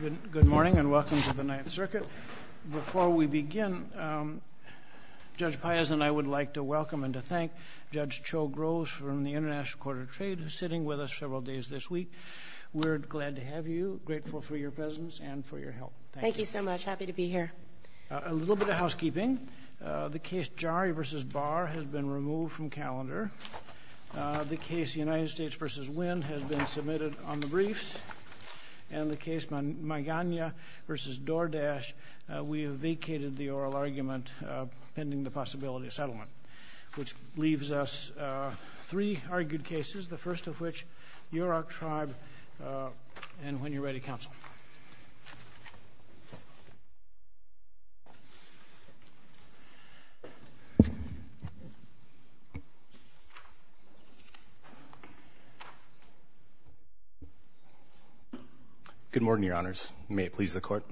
Good morning and welcome to the Ninth Circuit. Before we begin, Judge Piazza and I would like to welcome and to thank Judge Cho Groves from the International Court of Trade who's sitting with us several days this week. We're glad to have you, grateful for your presence and for your help. Thank you. Thank you so much. Happy to be here. A little bit of housekeeping. The case Jari v. Barr has been removed from calendar. The case United States v. Wynn has been submitted on the briefs. And the case Magana v. Doordash, we have vacated the oral argument pending the possibility of settlement. Which leaves us three argued cases, the first of which, Yurok Tribe, and when you're ready, counsel. Good morning, Your Honors. May it please the Court.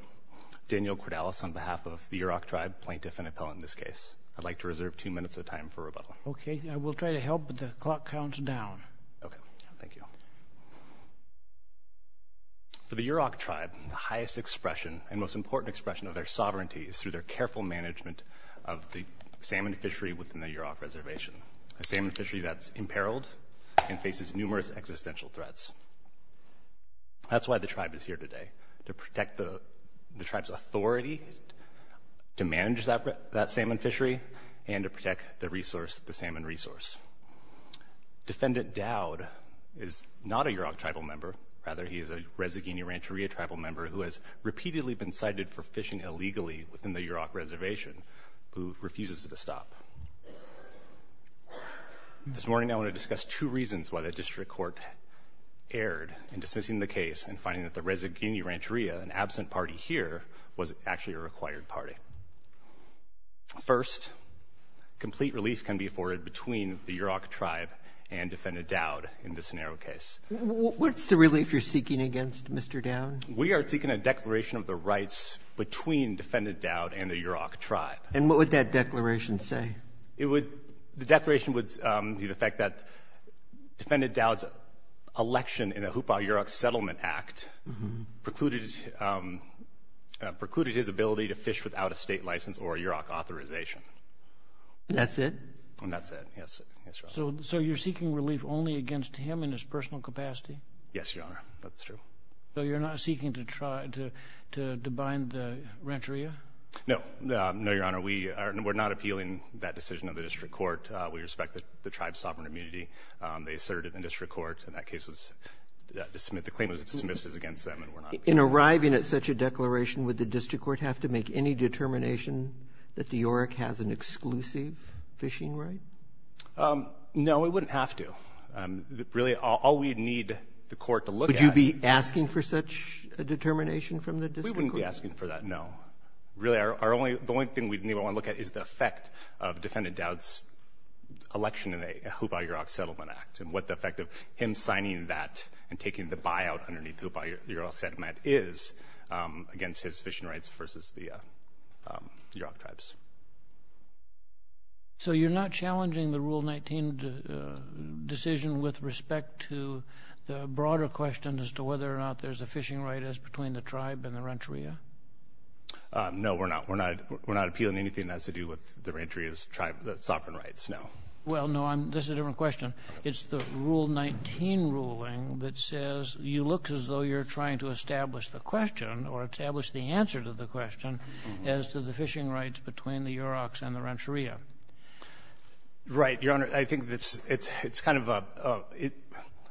Daniel Cordalis on behalf of the Yurok Tribe, plaintiff and appellant in this case. I'd like to reserve two minutes of time for rebuttal. Okay. I will try to help, but the clock counts down. Okay. Thank you. For the Yurok Tribe, the highest expression and most important expression of their sovereignty is through their careful management of the salmon fishery within the Yurok Reservation. A salmon fishery that's imperiled and faces numerous existential threats. That's why the tribe is here today, to protect the tribe's authority to manage that salmon fishery and to protect the salmon resource. Defendant Dowd is not a Yurok Tribal member. Rather, he is a Rezagini-Rancheria Tribal member who has repeatedly been cited for fishing illegally within the Yurok Reservation, who refuses to stop. This morning, I want to discuss two reasons why the district court erred in dismissing the case and finding that the Rezagini-Rancheria, an absent party here, was actually a required party. First, complete relief can be afforded between the Yurok Tribe and Defendant Dowd in this narrow case. What's the relief you're seeking against Mr. Dowd? We are seeking a declaration of the rights between Defendant Dowd and the Yurok Tribe. And what would that declaration say? The declaration would be the fact that Defendant Dowd's election in the Hupa Yurok Settlement Act precluded his ability to fish without a state license or a Yurok authorization. That's it? That's it, yes. So you're seeking relief only against him in his personal capacity? Yes, Your Honor, that's true. So you're not seeking to try to bind the Rancheria? No. No, Your Honor. We are not appealing that decision of the district court. We respect the Tribe's sovereign immunity. They asserted in the district court that that case was dismissed. The claim was dismissed as against them, and we're not appealing it. In arriving at such a declaration, would the district court have to make any determination that the Yurok has an exclusive fishing right? No, it wouldn't have to. Really, all we need the court to look at — Would you be asking for such a determination from the district court? We wouldn't be asking for that, no. Really, our only — the only thing we would want to look at is the effect of Defendant Dowd's election in a Hupa Yurok Settlement Act and what the effect of him signing that and taking the buyout underneath the Hupa Yurok Settlement is against his fishing rights versus the Yurok Tribes. So you're not challenging the Rule 19 decision with respect to the broader question as to whether or not there's a fishing right as between the Tribe and the Renteria? No, we're not. We're not appealing anything that has to do with the Renteria's sovereign rights, no. Well, no, this is a different question. It's the Rule 19 ruling that says you look as though you're trying to establish the question as to the fishing rights between the Yuroks and the Renteria. Right. Your Honor, I think it's kind of a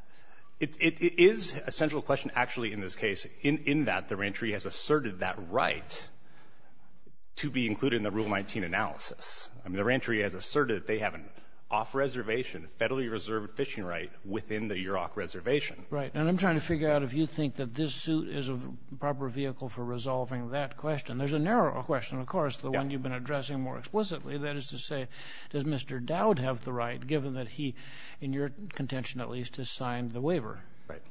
— it is a central question, actually, in this case, in that the Renteria has asserted that right to be included in the Rule 19 analysis. I mean, the Renteria has asserted that they have an off-reservation, federally reserved fishing right within the Yurok reservation. Right. And I'm trying to figure out if you think that this suit is a proper vehicle for resolving that question. There's a narrower question, of course, the one you've been addressing more explicitly. That is to say, does Mr. Dowd have the right, given that he, in your contention at least, has signed the waiver? Right.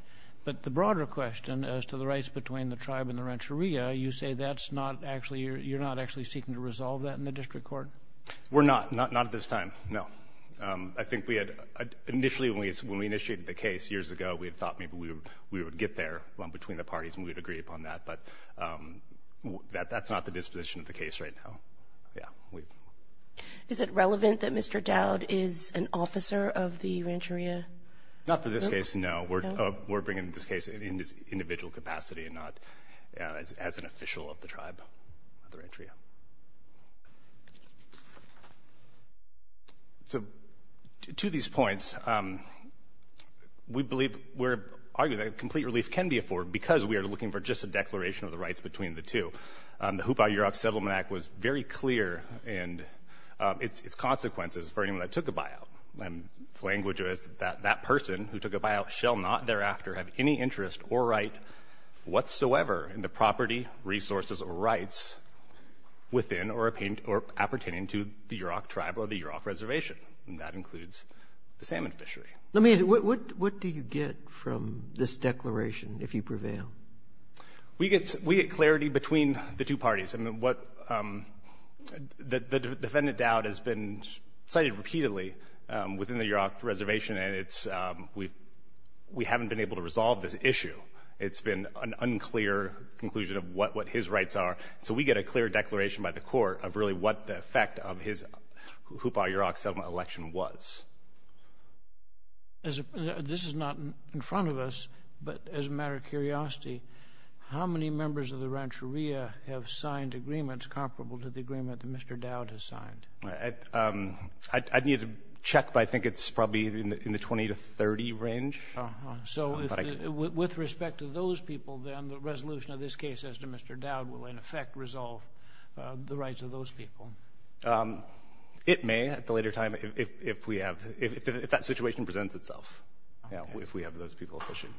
But the broader question as to the rights between the Tribe and the Renteria, you say that's not actually — you're not actually seeking to resolve that in the district court? We're not. Not at this time, no. I think we had — initially, when we initiated the case years ago, we had thought maybe we would get there between the parties and we would agree upon that. But that's not the disposition of the case right now. Yeah. Is it relevant that Mr. Dowd is an officer of the Renteria? Not for this case, no. No? We're bringing this case in this individual capacity and not as an official of the Tribe, of the Renteria. So to these points, we believe — we're arguing that complete relief can be afforded because we are looking for just a declaration of the rights between the two. The Hoopah-Yurok Settlement Act was very clear in its consequences for anyone that took a buyout. And its language was that that person who took a buyout shall not thereafter have any interest or right whatsoever in the property, resources, or rights within or appertaining to the Yurok Tribe or the Yurok Reservation. And that includes the salmon fishery. Let me ask you, what do you get from this declaration if you prevail? We get clarity between the two parties. And what the Defendant Dowd has been cited repeatedly within the Yurok Reservation, and it's — we haven't been able to resolve this issue. It's been an unclear conclusion of what his rights are. So we get a clear declaration by the Court of really what the effect of his Hoopah-Yurok Settlement election was. This is not in front of us, but as a matter of curiosity, how many members of the Rancheria have signed agreements comparable to the agreement that Mr. Dowd has signed? I'd need to check, but I think it's probably in the 20 to 30 range. So with respect to those people, then, the resolution of this case as to Mr. Dowd will, in effect, resolve the rights of those people. It may at the later time if we have — if that situation presents itself, if we have those people fishing.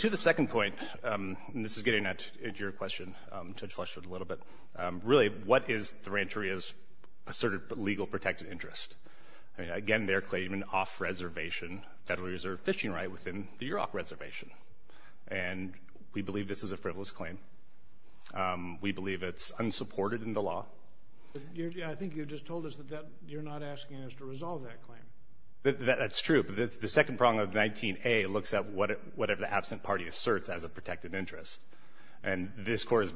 To the second point, and this is getting at your question, Judge Fletcher, a little bit, really, what is the Rancheria's asserted legal protected interest? Again, they're claiming an off-reservation Federal Reserve fishing right within the Yurok Reservation. And we believe this is a frivolous claim. We believe it's unsupported in the law. I think you just told us that you're not asking us to resolve that claim. That's true. But the second prong of 19A looks at whatever the absent party asserts as a protected interest. And this Court has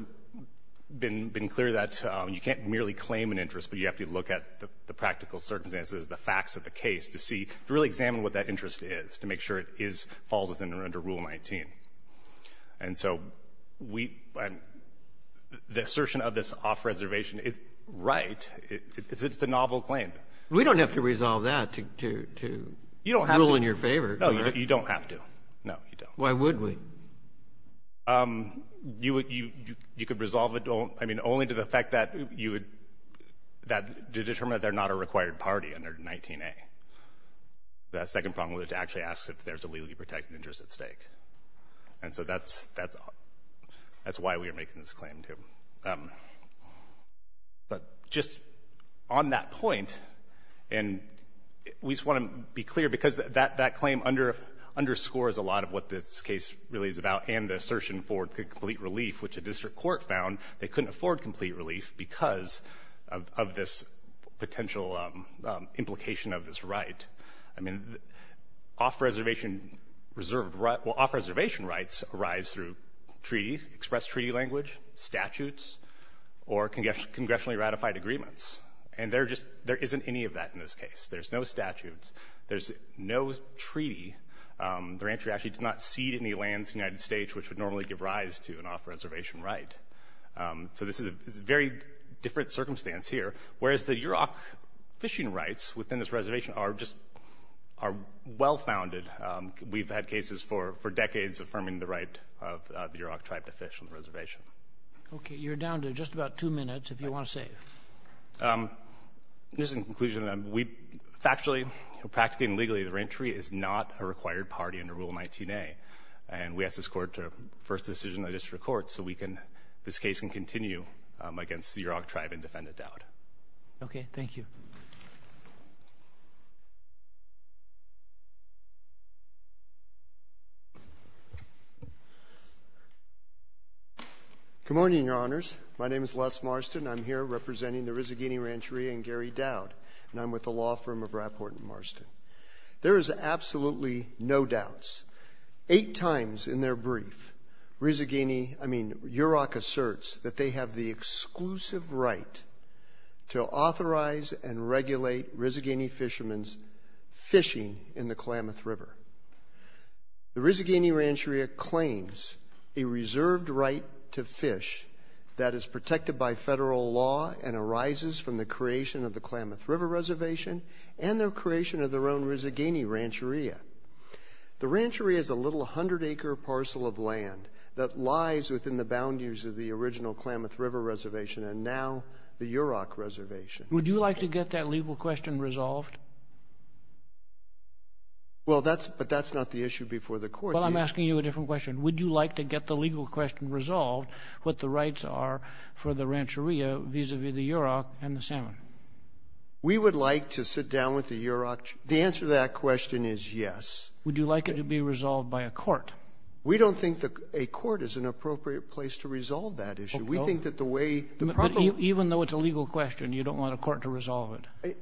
been clear that you can't merely claim an interest, but you have to look at the practical circumstances, the facts of the case to see, to really examine what that interest is, to make sure it is — falls within or under Rule 19. And so we — the assertion of this off-reservation is right. It's a novel claim. We don't have to resolve that to — to — to rule in your favor, do we? You don't have to. No, you don't. Why would we? You would — you could resolve it only to the effect that you would — that to determine that they're not a required party under 19A. The second prong of it actually asks if there's a legally protected interest at stake. And so that's — that's — that's why we are making this claim, too. But just on that point, and we just want to be clear, because that — that claim underscores a lot of what this case really is about and the assertion for complete relief, which a district court found they couldn't afford complete relief because of this — of this potential implication of this right. I mean, off-reservation reserved right — well, off-reservation rights arise through treaties, expressed treaty language, statutes, or congressionally ratified agreements. And there just — there isn't any of that in this case. There's no statutes. There's no treaty. The rancher actually did not cede any lands to the United States, which would normally give rise to an off-reservation right. So this is a very different circumstance here, whereas the Yurok fishing rights within this reservation are just — are well-founded. We've had cases for — for decades affirming the right of the Yurok tribe to fish on the reservation. Okay. You're down to just about two minutes, if you want to save. Just in conclusion, we factually, practically and legally, the ranchery is not a required party under Rule 19a. And we ask this Court to first decision the district court so we can — this case can continue against the Yurok tribe and defendant Dowd. Okay. Thank you. Good morning, Your Honors. My name is Les Marston. I'm here representing the Rizzaghini Rancheria and Gary Dowd. And I'm with the law firm of Rapport and Marston. There is absolutely no doubts. Eight times in their brief, Rizzaghini — I mean, Yurok asserts that they have the exclusive right to authorize and regulate Rizzaghini fishermen's fishing in the Klamath River. The Rizzaghini Rancheria claims a reserved right to fish that is protected by federal law and arises from the creation of the Klamath River Reservation and the creation of their own Rizzaghini Rancheria. The rancheria is a little 100-acre parcel of land that lies within the boundaries of the original Klamath River Reservation and now the Yurok Reservation. Would you like to get that legal question resolved? Well, that's — but that's not the issue before the Court. Well, I'm asking you a different question. Would you like to get the legal question resolved, what the rights are for the rancheria vis-à-vis the Yurok and the salmon? We would like to sit down with the Yurok. The answer to that question is yes. Would you like it to be resolved by a court? We don't think a court is an appropriate place to resolve that issue. Okay. We think that the way — But even though it's a legal question, you don't want a court to resolve it?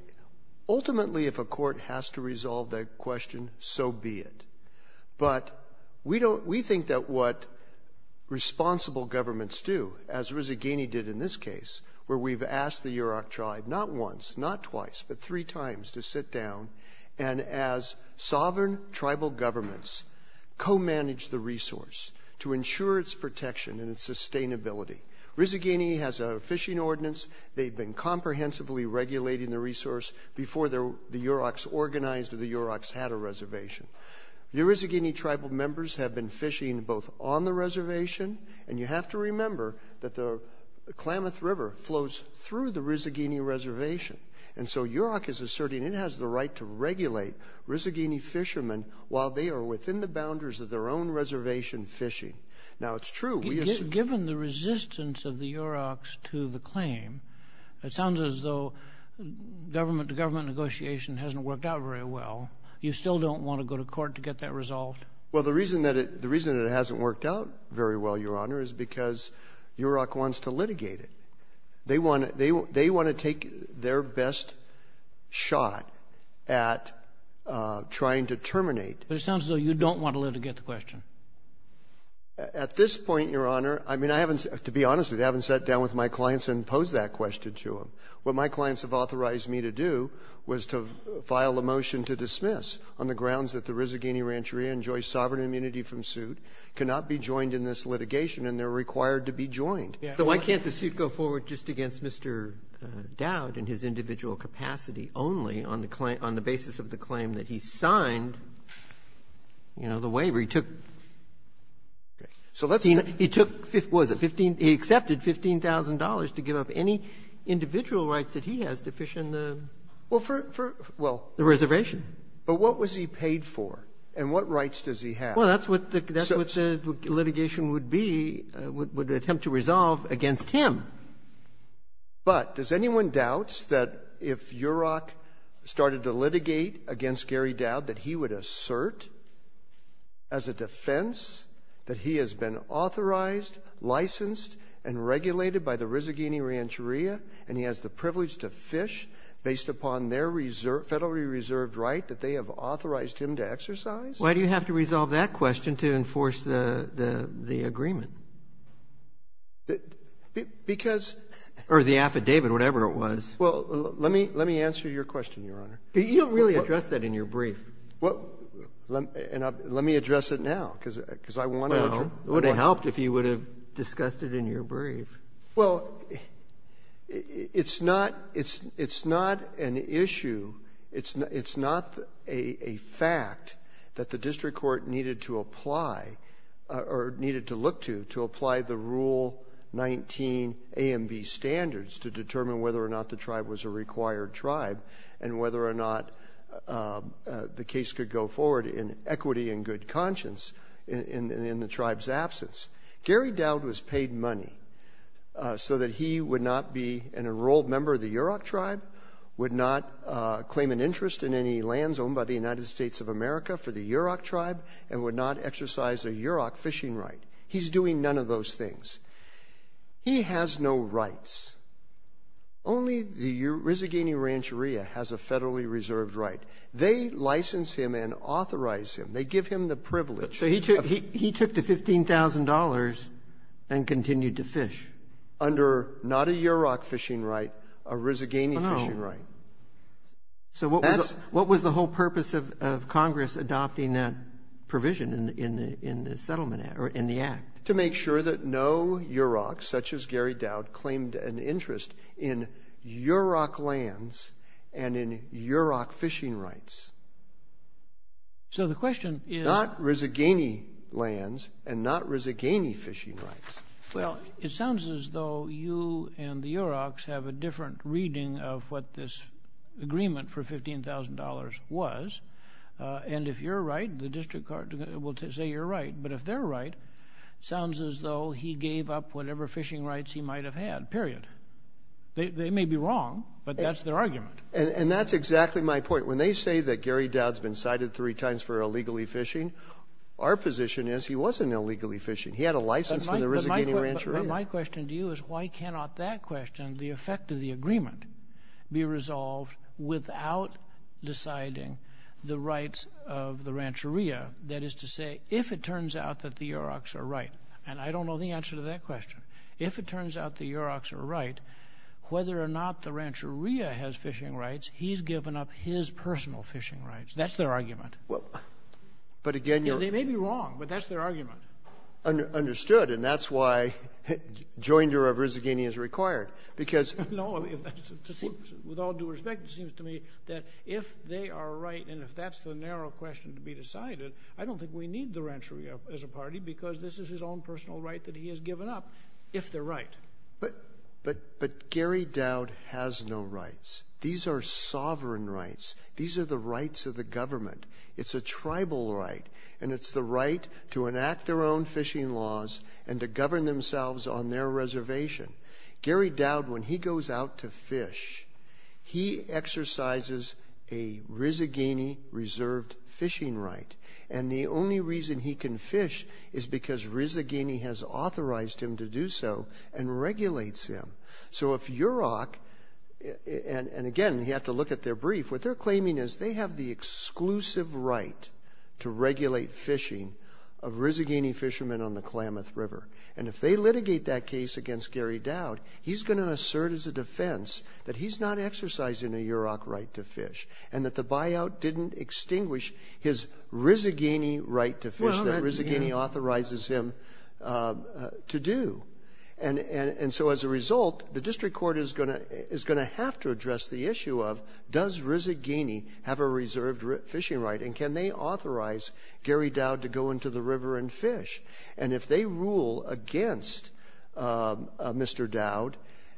Ultimately, if a court has to resolve that question, so be it. But we don't — we think that what responsible governments do, as Rizzaghini did in this case, where we've asked the Yurok tribe not once, not twice, but three times to sit down and, as sovereign tribal governments, co-manage the resource to ensure its protection and its sustainability. Rizzaghini has a fishing ordinance. They've been comprehensively regulating the resource before the Yuroks organized or the Yuroks had a reservation. The Rizzaghini tribal members have been fishing both on the reservation — and you have to remember that the Klamath River flows through the Rizzaghini reservation. And so Yurok is asserting it has the right to regulate Rizzaghini fishermen while they are within the boundaries of their own reservation fishing. Now, it's true — Given the resistance of the Yuroks to the claim, it sounds as though government-to-government negotiation hasn't worked out very well. You still don't want to go to court to get that resolved? Well, the reason that it hasn't worked out very well, Your Honor, is because Yurok wants to litigate it. They want to take their best shot at trying to terminate. But it sounds as though you don't want to litigate the question. At this point, Your Honor, I mean, I haven't — to be honest with you, I haven't sat down with my clients and posed that question to them. What my clients have authorized me to do was to file a motion to dismiss on the grounds that the Rizzaghini Rancheria enjoys sovereign immunity from suit, cannot be joined in this litigation, and they're required to be joined. So why can't the suit go forward just against Mr. Dowd in his individual capacity only on the claim — on the basis of the claim that he signed, you know, the waiver? He took — Okay. So let's say — He took, what was it, $15 — he accepted $15,000 to give up any individual rights that he has to fish in the — Well, for — for — well — The reservation. But what was he paid for, and what rights does he have? Well, that's what the — that's what the litigation would be, would attempt to resolve against him. But does anyone doubt that if Yurok started to litigate against Gary Dowd, that he would assert as a defense that he has been authorized, licensed, and regulated by the Rizzaghini Rancheria, and he has the privilege to fish based upon their reserve right that they have authorized him to exercise? Why do you have to resolve that question to enforce the — the agreement? Because — Or the affidavit, whatever it was. Well, let me — let me answer your question, Your Honor. But you don't really address that in your brief. Well, let me address it now, because I want to address it. Well, it would have helped if you would have discussed it in your brief. Well, it's not — it's — it's not an issue. It's not a fact that the district court needed to apply, or needed to look to, to apply the Rule 19 A and B standards to determine whether or not the tribe was a required tribe, and whether or not the case could go forward in equity and good conscience in the tribe's absence. Gary Dowd was paid money so that he would not be an enrolled member of the Yurok tribe, would not claim an interest in any lands owned by the United States of America for the Yurok tribe, and would not exercise a Yurok fishing right. He's doing none of those things. He has no rights. Only the Rizzaghini Rancheria has a federally reserved right. They license him and authorize him. They give him the privilege. So he took — he took the $15,000 and continued to fish. Under not a Yurok fishing right, a Rizzaghini fishing right. So what was the whole purpose of Congress adopting that provision in the Settlement Act — or in the Act? To make sure that no Yurok, such as Gary Dowd, claimed an interest in Yurok lands and in Yurok fishing rights. So the question is — Not Rizzaghini lands and not Rizzaghini fishing rights. Well, it sounds as though you and the Yuroks have a different reading of what this agreement for $15,000 was. And if you're right, the district court will say you're right. But if they're right, it sounds as though he gave up whatever fishing rights he might have had, period. They may be wrong, but that's their argument. And that's exactly my point. When they say that Gary Dowd's been cited three times for illegally fishing, our position is he wasn't illegally fishing. He had a license for the Rizzaghini Rancheria. But my question to you is why cannot that question, the effect of the agreement, be resolved without deciding the rights of the Rancheria? That is to say, if it turns out that the Yuroks are right — and I don't know the answer to that question. If it turns out the Yuroks are right, whether or not the Rancheria has fishing rights, he's given up his personal fishing rights. That's their argument. Well, but again, your — They may be wrong, but that's their argument. Understood. And that's why joinder of Rizzaghini is required, because — No. With all due respect, it seems to me that if they are right and if that's the narrow question to be decided, I don't think we need the Rancheria as a party, because this is his own personal right that he has given up, if they're right. But Gary Dowd has no rights. These are sovereign rights. These are the rights of the government. It's a tribal right, and it's the right to enact their own fishing laws and to govern themselves on their reservation. Gary Dowd, when he goes out to fish, he exercises a Rizzaghini reserved fishing right. And the only reason he can fish is because Rizzaghini has authorized him to do so and regulates him. So if Yurok — and again, you have to look at their brief. What they're claiming is they have the exclusive right to regulate fishing of Rizzaghini fishermen on the Klamath River. And if they litigate that case against Gary Dowd, he's going to assert as a defense that he's not exercising a Yurok right to fish and that the buyout didn't extinguish his Rizzaghini right to fish that Rizzaghini authorizes him to do. And so as a result, the district court is going to have to address the issue of does Rizzaghini have a reserved fishing right, and can they authorize Gary Dowd to go into the river and fish. And if they rule against Mr. Dowd,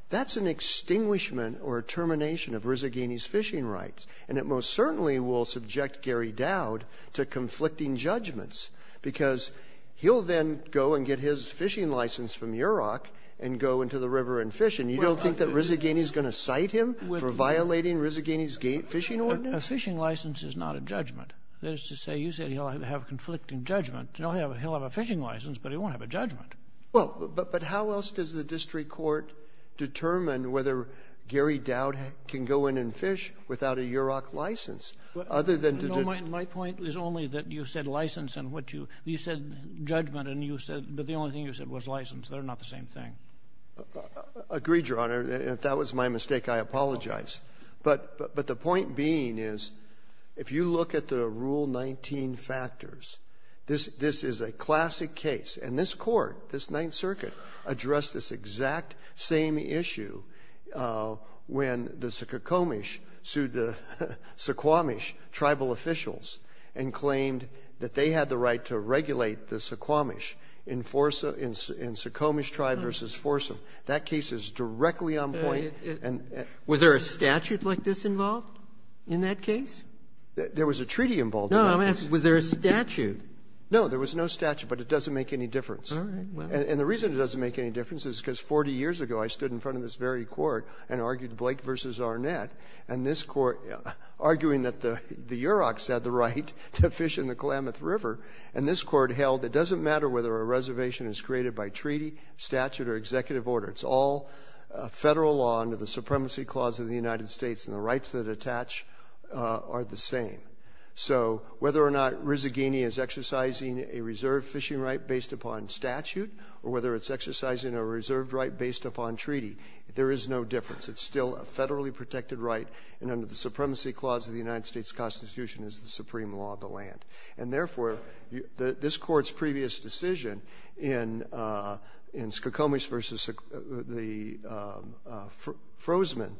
that's an extinguishment or a termination of Rizzaghini's fishing rights. And it most certainly will subject Gary Dowd to conflicting judgments because he'll then go and get his fishing license from Yurok and go into the river and fish. And you don't think that Rizzaghini is going to cite him for violating Rizzaghini's fishing ordinance? A fishing license is not a judgment. That is to say, you said he'll have conflicting judgment. He'll have a fishing license, but he won't have a judgment. Well, but how else does the district court determine whether Gary Dowd can go in and fish without a Yurok license, other than to do — My point is only that you said license and what you — you said judgment and you said — but the only thing you said was license. They're not the same thing. Agreed, Your Honor. If that was my mistake, I apologize. But the point being is if you look at the Rule 19 factors, this is a classic case. And this Court, this Ninth Circuit, addressed this exact same issue when the Suquamish sued the Suquamish tribal officials and claimed that they had the right to regulate the Suquamish in Forsa — in Suquamish Tribe v. Forsa. That case is directly on point. Was there a statute like this involved in that case? There was a treaty involved. No, I'm asking, was there a statute? No, there was no statute, but it doesn't make any difference. All right. And the reason it doesn't make any difference is because 40 years ago I stood in front of this very Court and argued Blake v. Arnett, and this Court — arguing that the Yuroks had the right to fish in the Klamath River, and this Court held it doesn't matter whether a reservation is created by treaty, statute, or executive order. It's all Federal law under the Supremacy Clause of the United States, and the rights that attach are the same. So whether or not Rizagini is exercising a reserve fishing right based upon statute or whether it's exercising a reserved right based upon treaty, there is no difference. It's still a Federally protected right, and under the Supremacy Clause of the United States Constitution is the supreme law of the land. And therefore, this Court's previous decision in — in Suquamish v. the — Frosman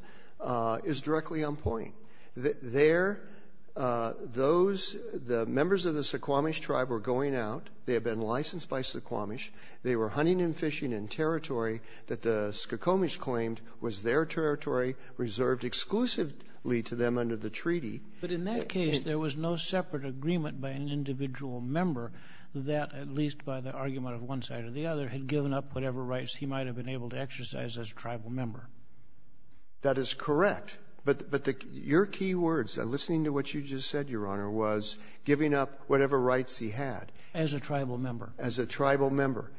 is directly on point. There — those — the members of the Suquamish Tribe were going out. They had been licensed by Suquamish. They were hunting and fishing in territory that the Suquamish claimed was their territory reserved exclusively to them under the treaty. But in that case, there was no separate agreement by an individual member that, at least by the argument of one side or the other, had given up whatever rights he might have been able to exercise as a tribal member. That is correct. But — but the — your key words, listening to what you just said, Your Honor, was giving up whatever rights he had. As a tribal member. As a tribal member.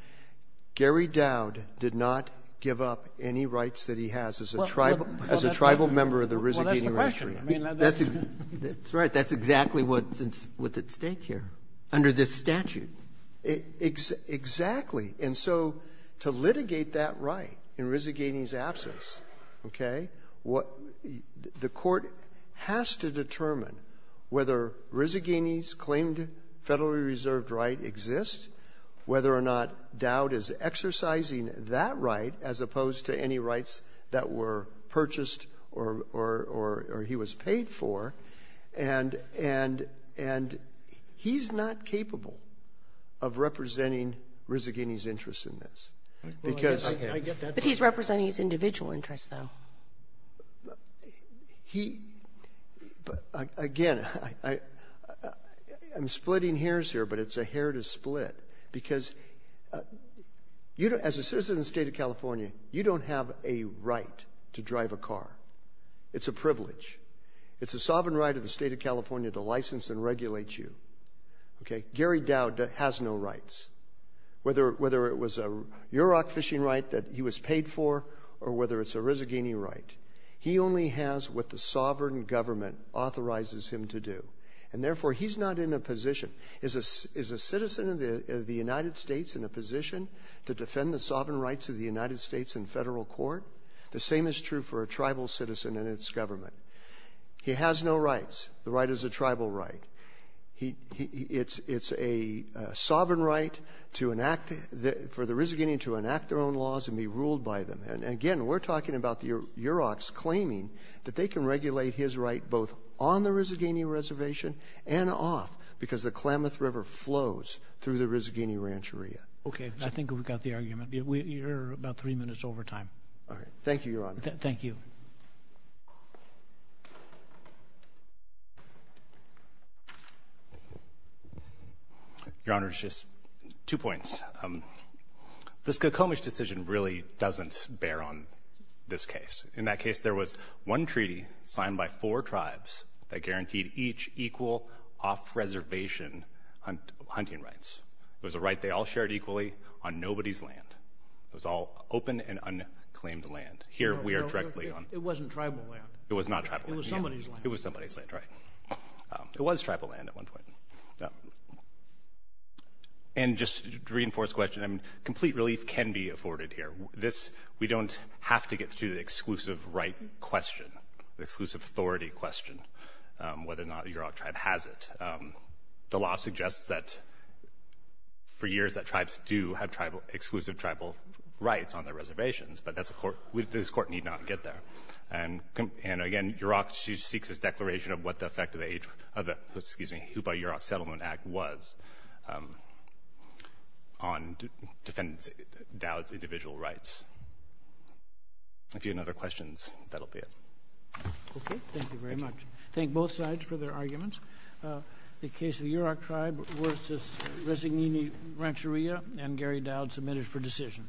Gary Dowd did not give up any rights that he has as a tribal — as a tribal member of the Rizzagini Rancheria. Well, that's the question. That's — that's right. That's exactly what's at stake here under this statute. Exactly. And so to litigate that right in Rizzagini's absence, okay, what — the Court has to determine whether Rizzagini's claimed Federally reserved right exists, whether or not Dowd is exercising that right as opposed to any rights that were purchased or — or he was paid for, and — and — and he's not capable of representing Rizzagini's interests in this, because — Well, I guess I get that part. But he's representing his individual interests, though. He — but, again, I — I'm splitting hairs here, but it's a hair to split. Because you don't — as a citizen of the state of California, you don't have a right to drive a car. It's a privilege. It's a sovereign right of the state of California to license and regulate you, okay? Gary Dowd has no rights. Whether — whether it was a UROC fishing right that he was paid for or whether it's a Rizzagini right, he only has what the sovereign government authorizes him to do. And therefore, he's not in a position — is a — is a citizen of the — of the United States in a position to defend the sovereign rights of the United States in federal court? The same is true for a tribal citizen and its government. He has no rights. The right is a tribal right. He — it's — it's a sovereign right to enact — for the Rizzagini to enact their own laws and be ruled by them. And again, we're talking about the UROCs claiming that they can regulate his right both on the Rizzagini Reservation and off, because the Klamath River flows through the Rizzagini Rancheria. Okay. I think we've got the argument. You're about three minutes over time. All right. Thank you, Your Honor. Thank you. Your Honor, just two points. The Skokomish decision really doesn't bear on this case. In that case, there was one treaty signed by four tribes that guaranteed each equal off-reservation hunting rights. It was a right they all shared equally on nobody's land. It was all open and unclaimed land. Here we are directly on — No, no, no. It wasn't tribal land. It was not tribal land. It was somebody's land. It was somebody's land, right. It was tribal land at one point. And just to reinforce the question, complete relief can be afforded here. We don't have to get to the exclusive right question, the exclusive authority question, whether or not the UROC tribe has it. The law suggests that for years that tribes do have exclusive tribal rights on their reservations, but this Court need not get there. And again, UROC seeks this declaration of what the effect of the Hupa-UROC Settlement Act was on defendants' — Dowd's — individual rights. If you have other questions, that'll be it. Okay. Thank you very much. Thank both sides for their arguments. The case of the UROC tribe versus Resignini Rancheria and Gary Dowd submitted for decision.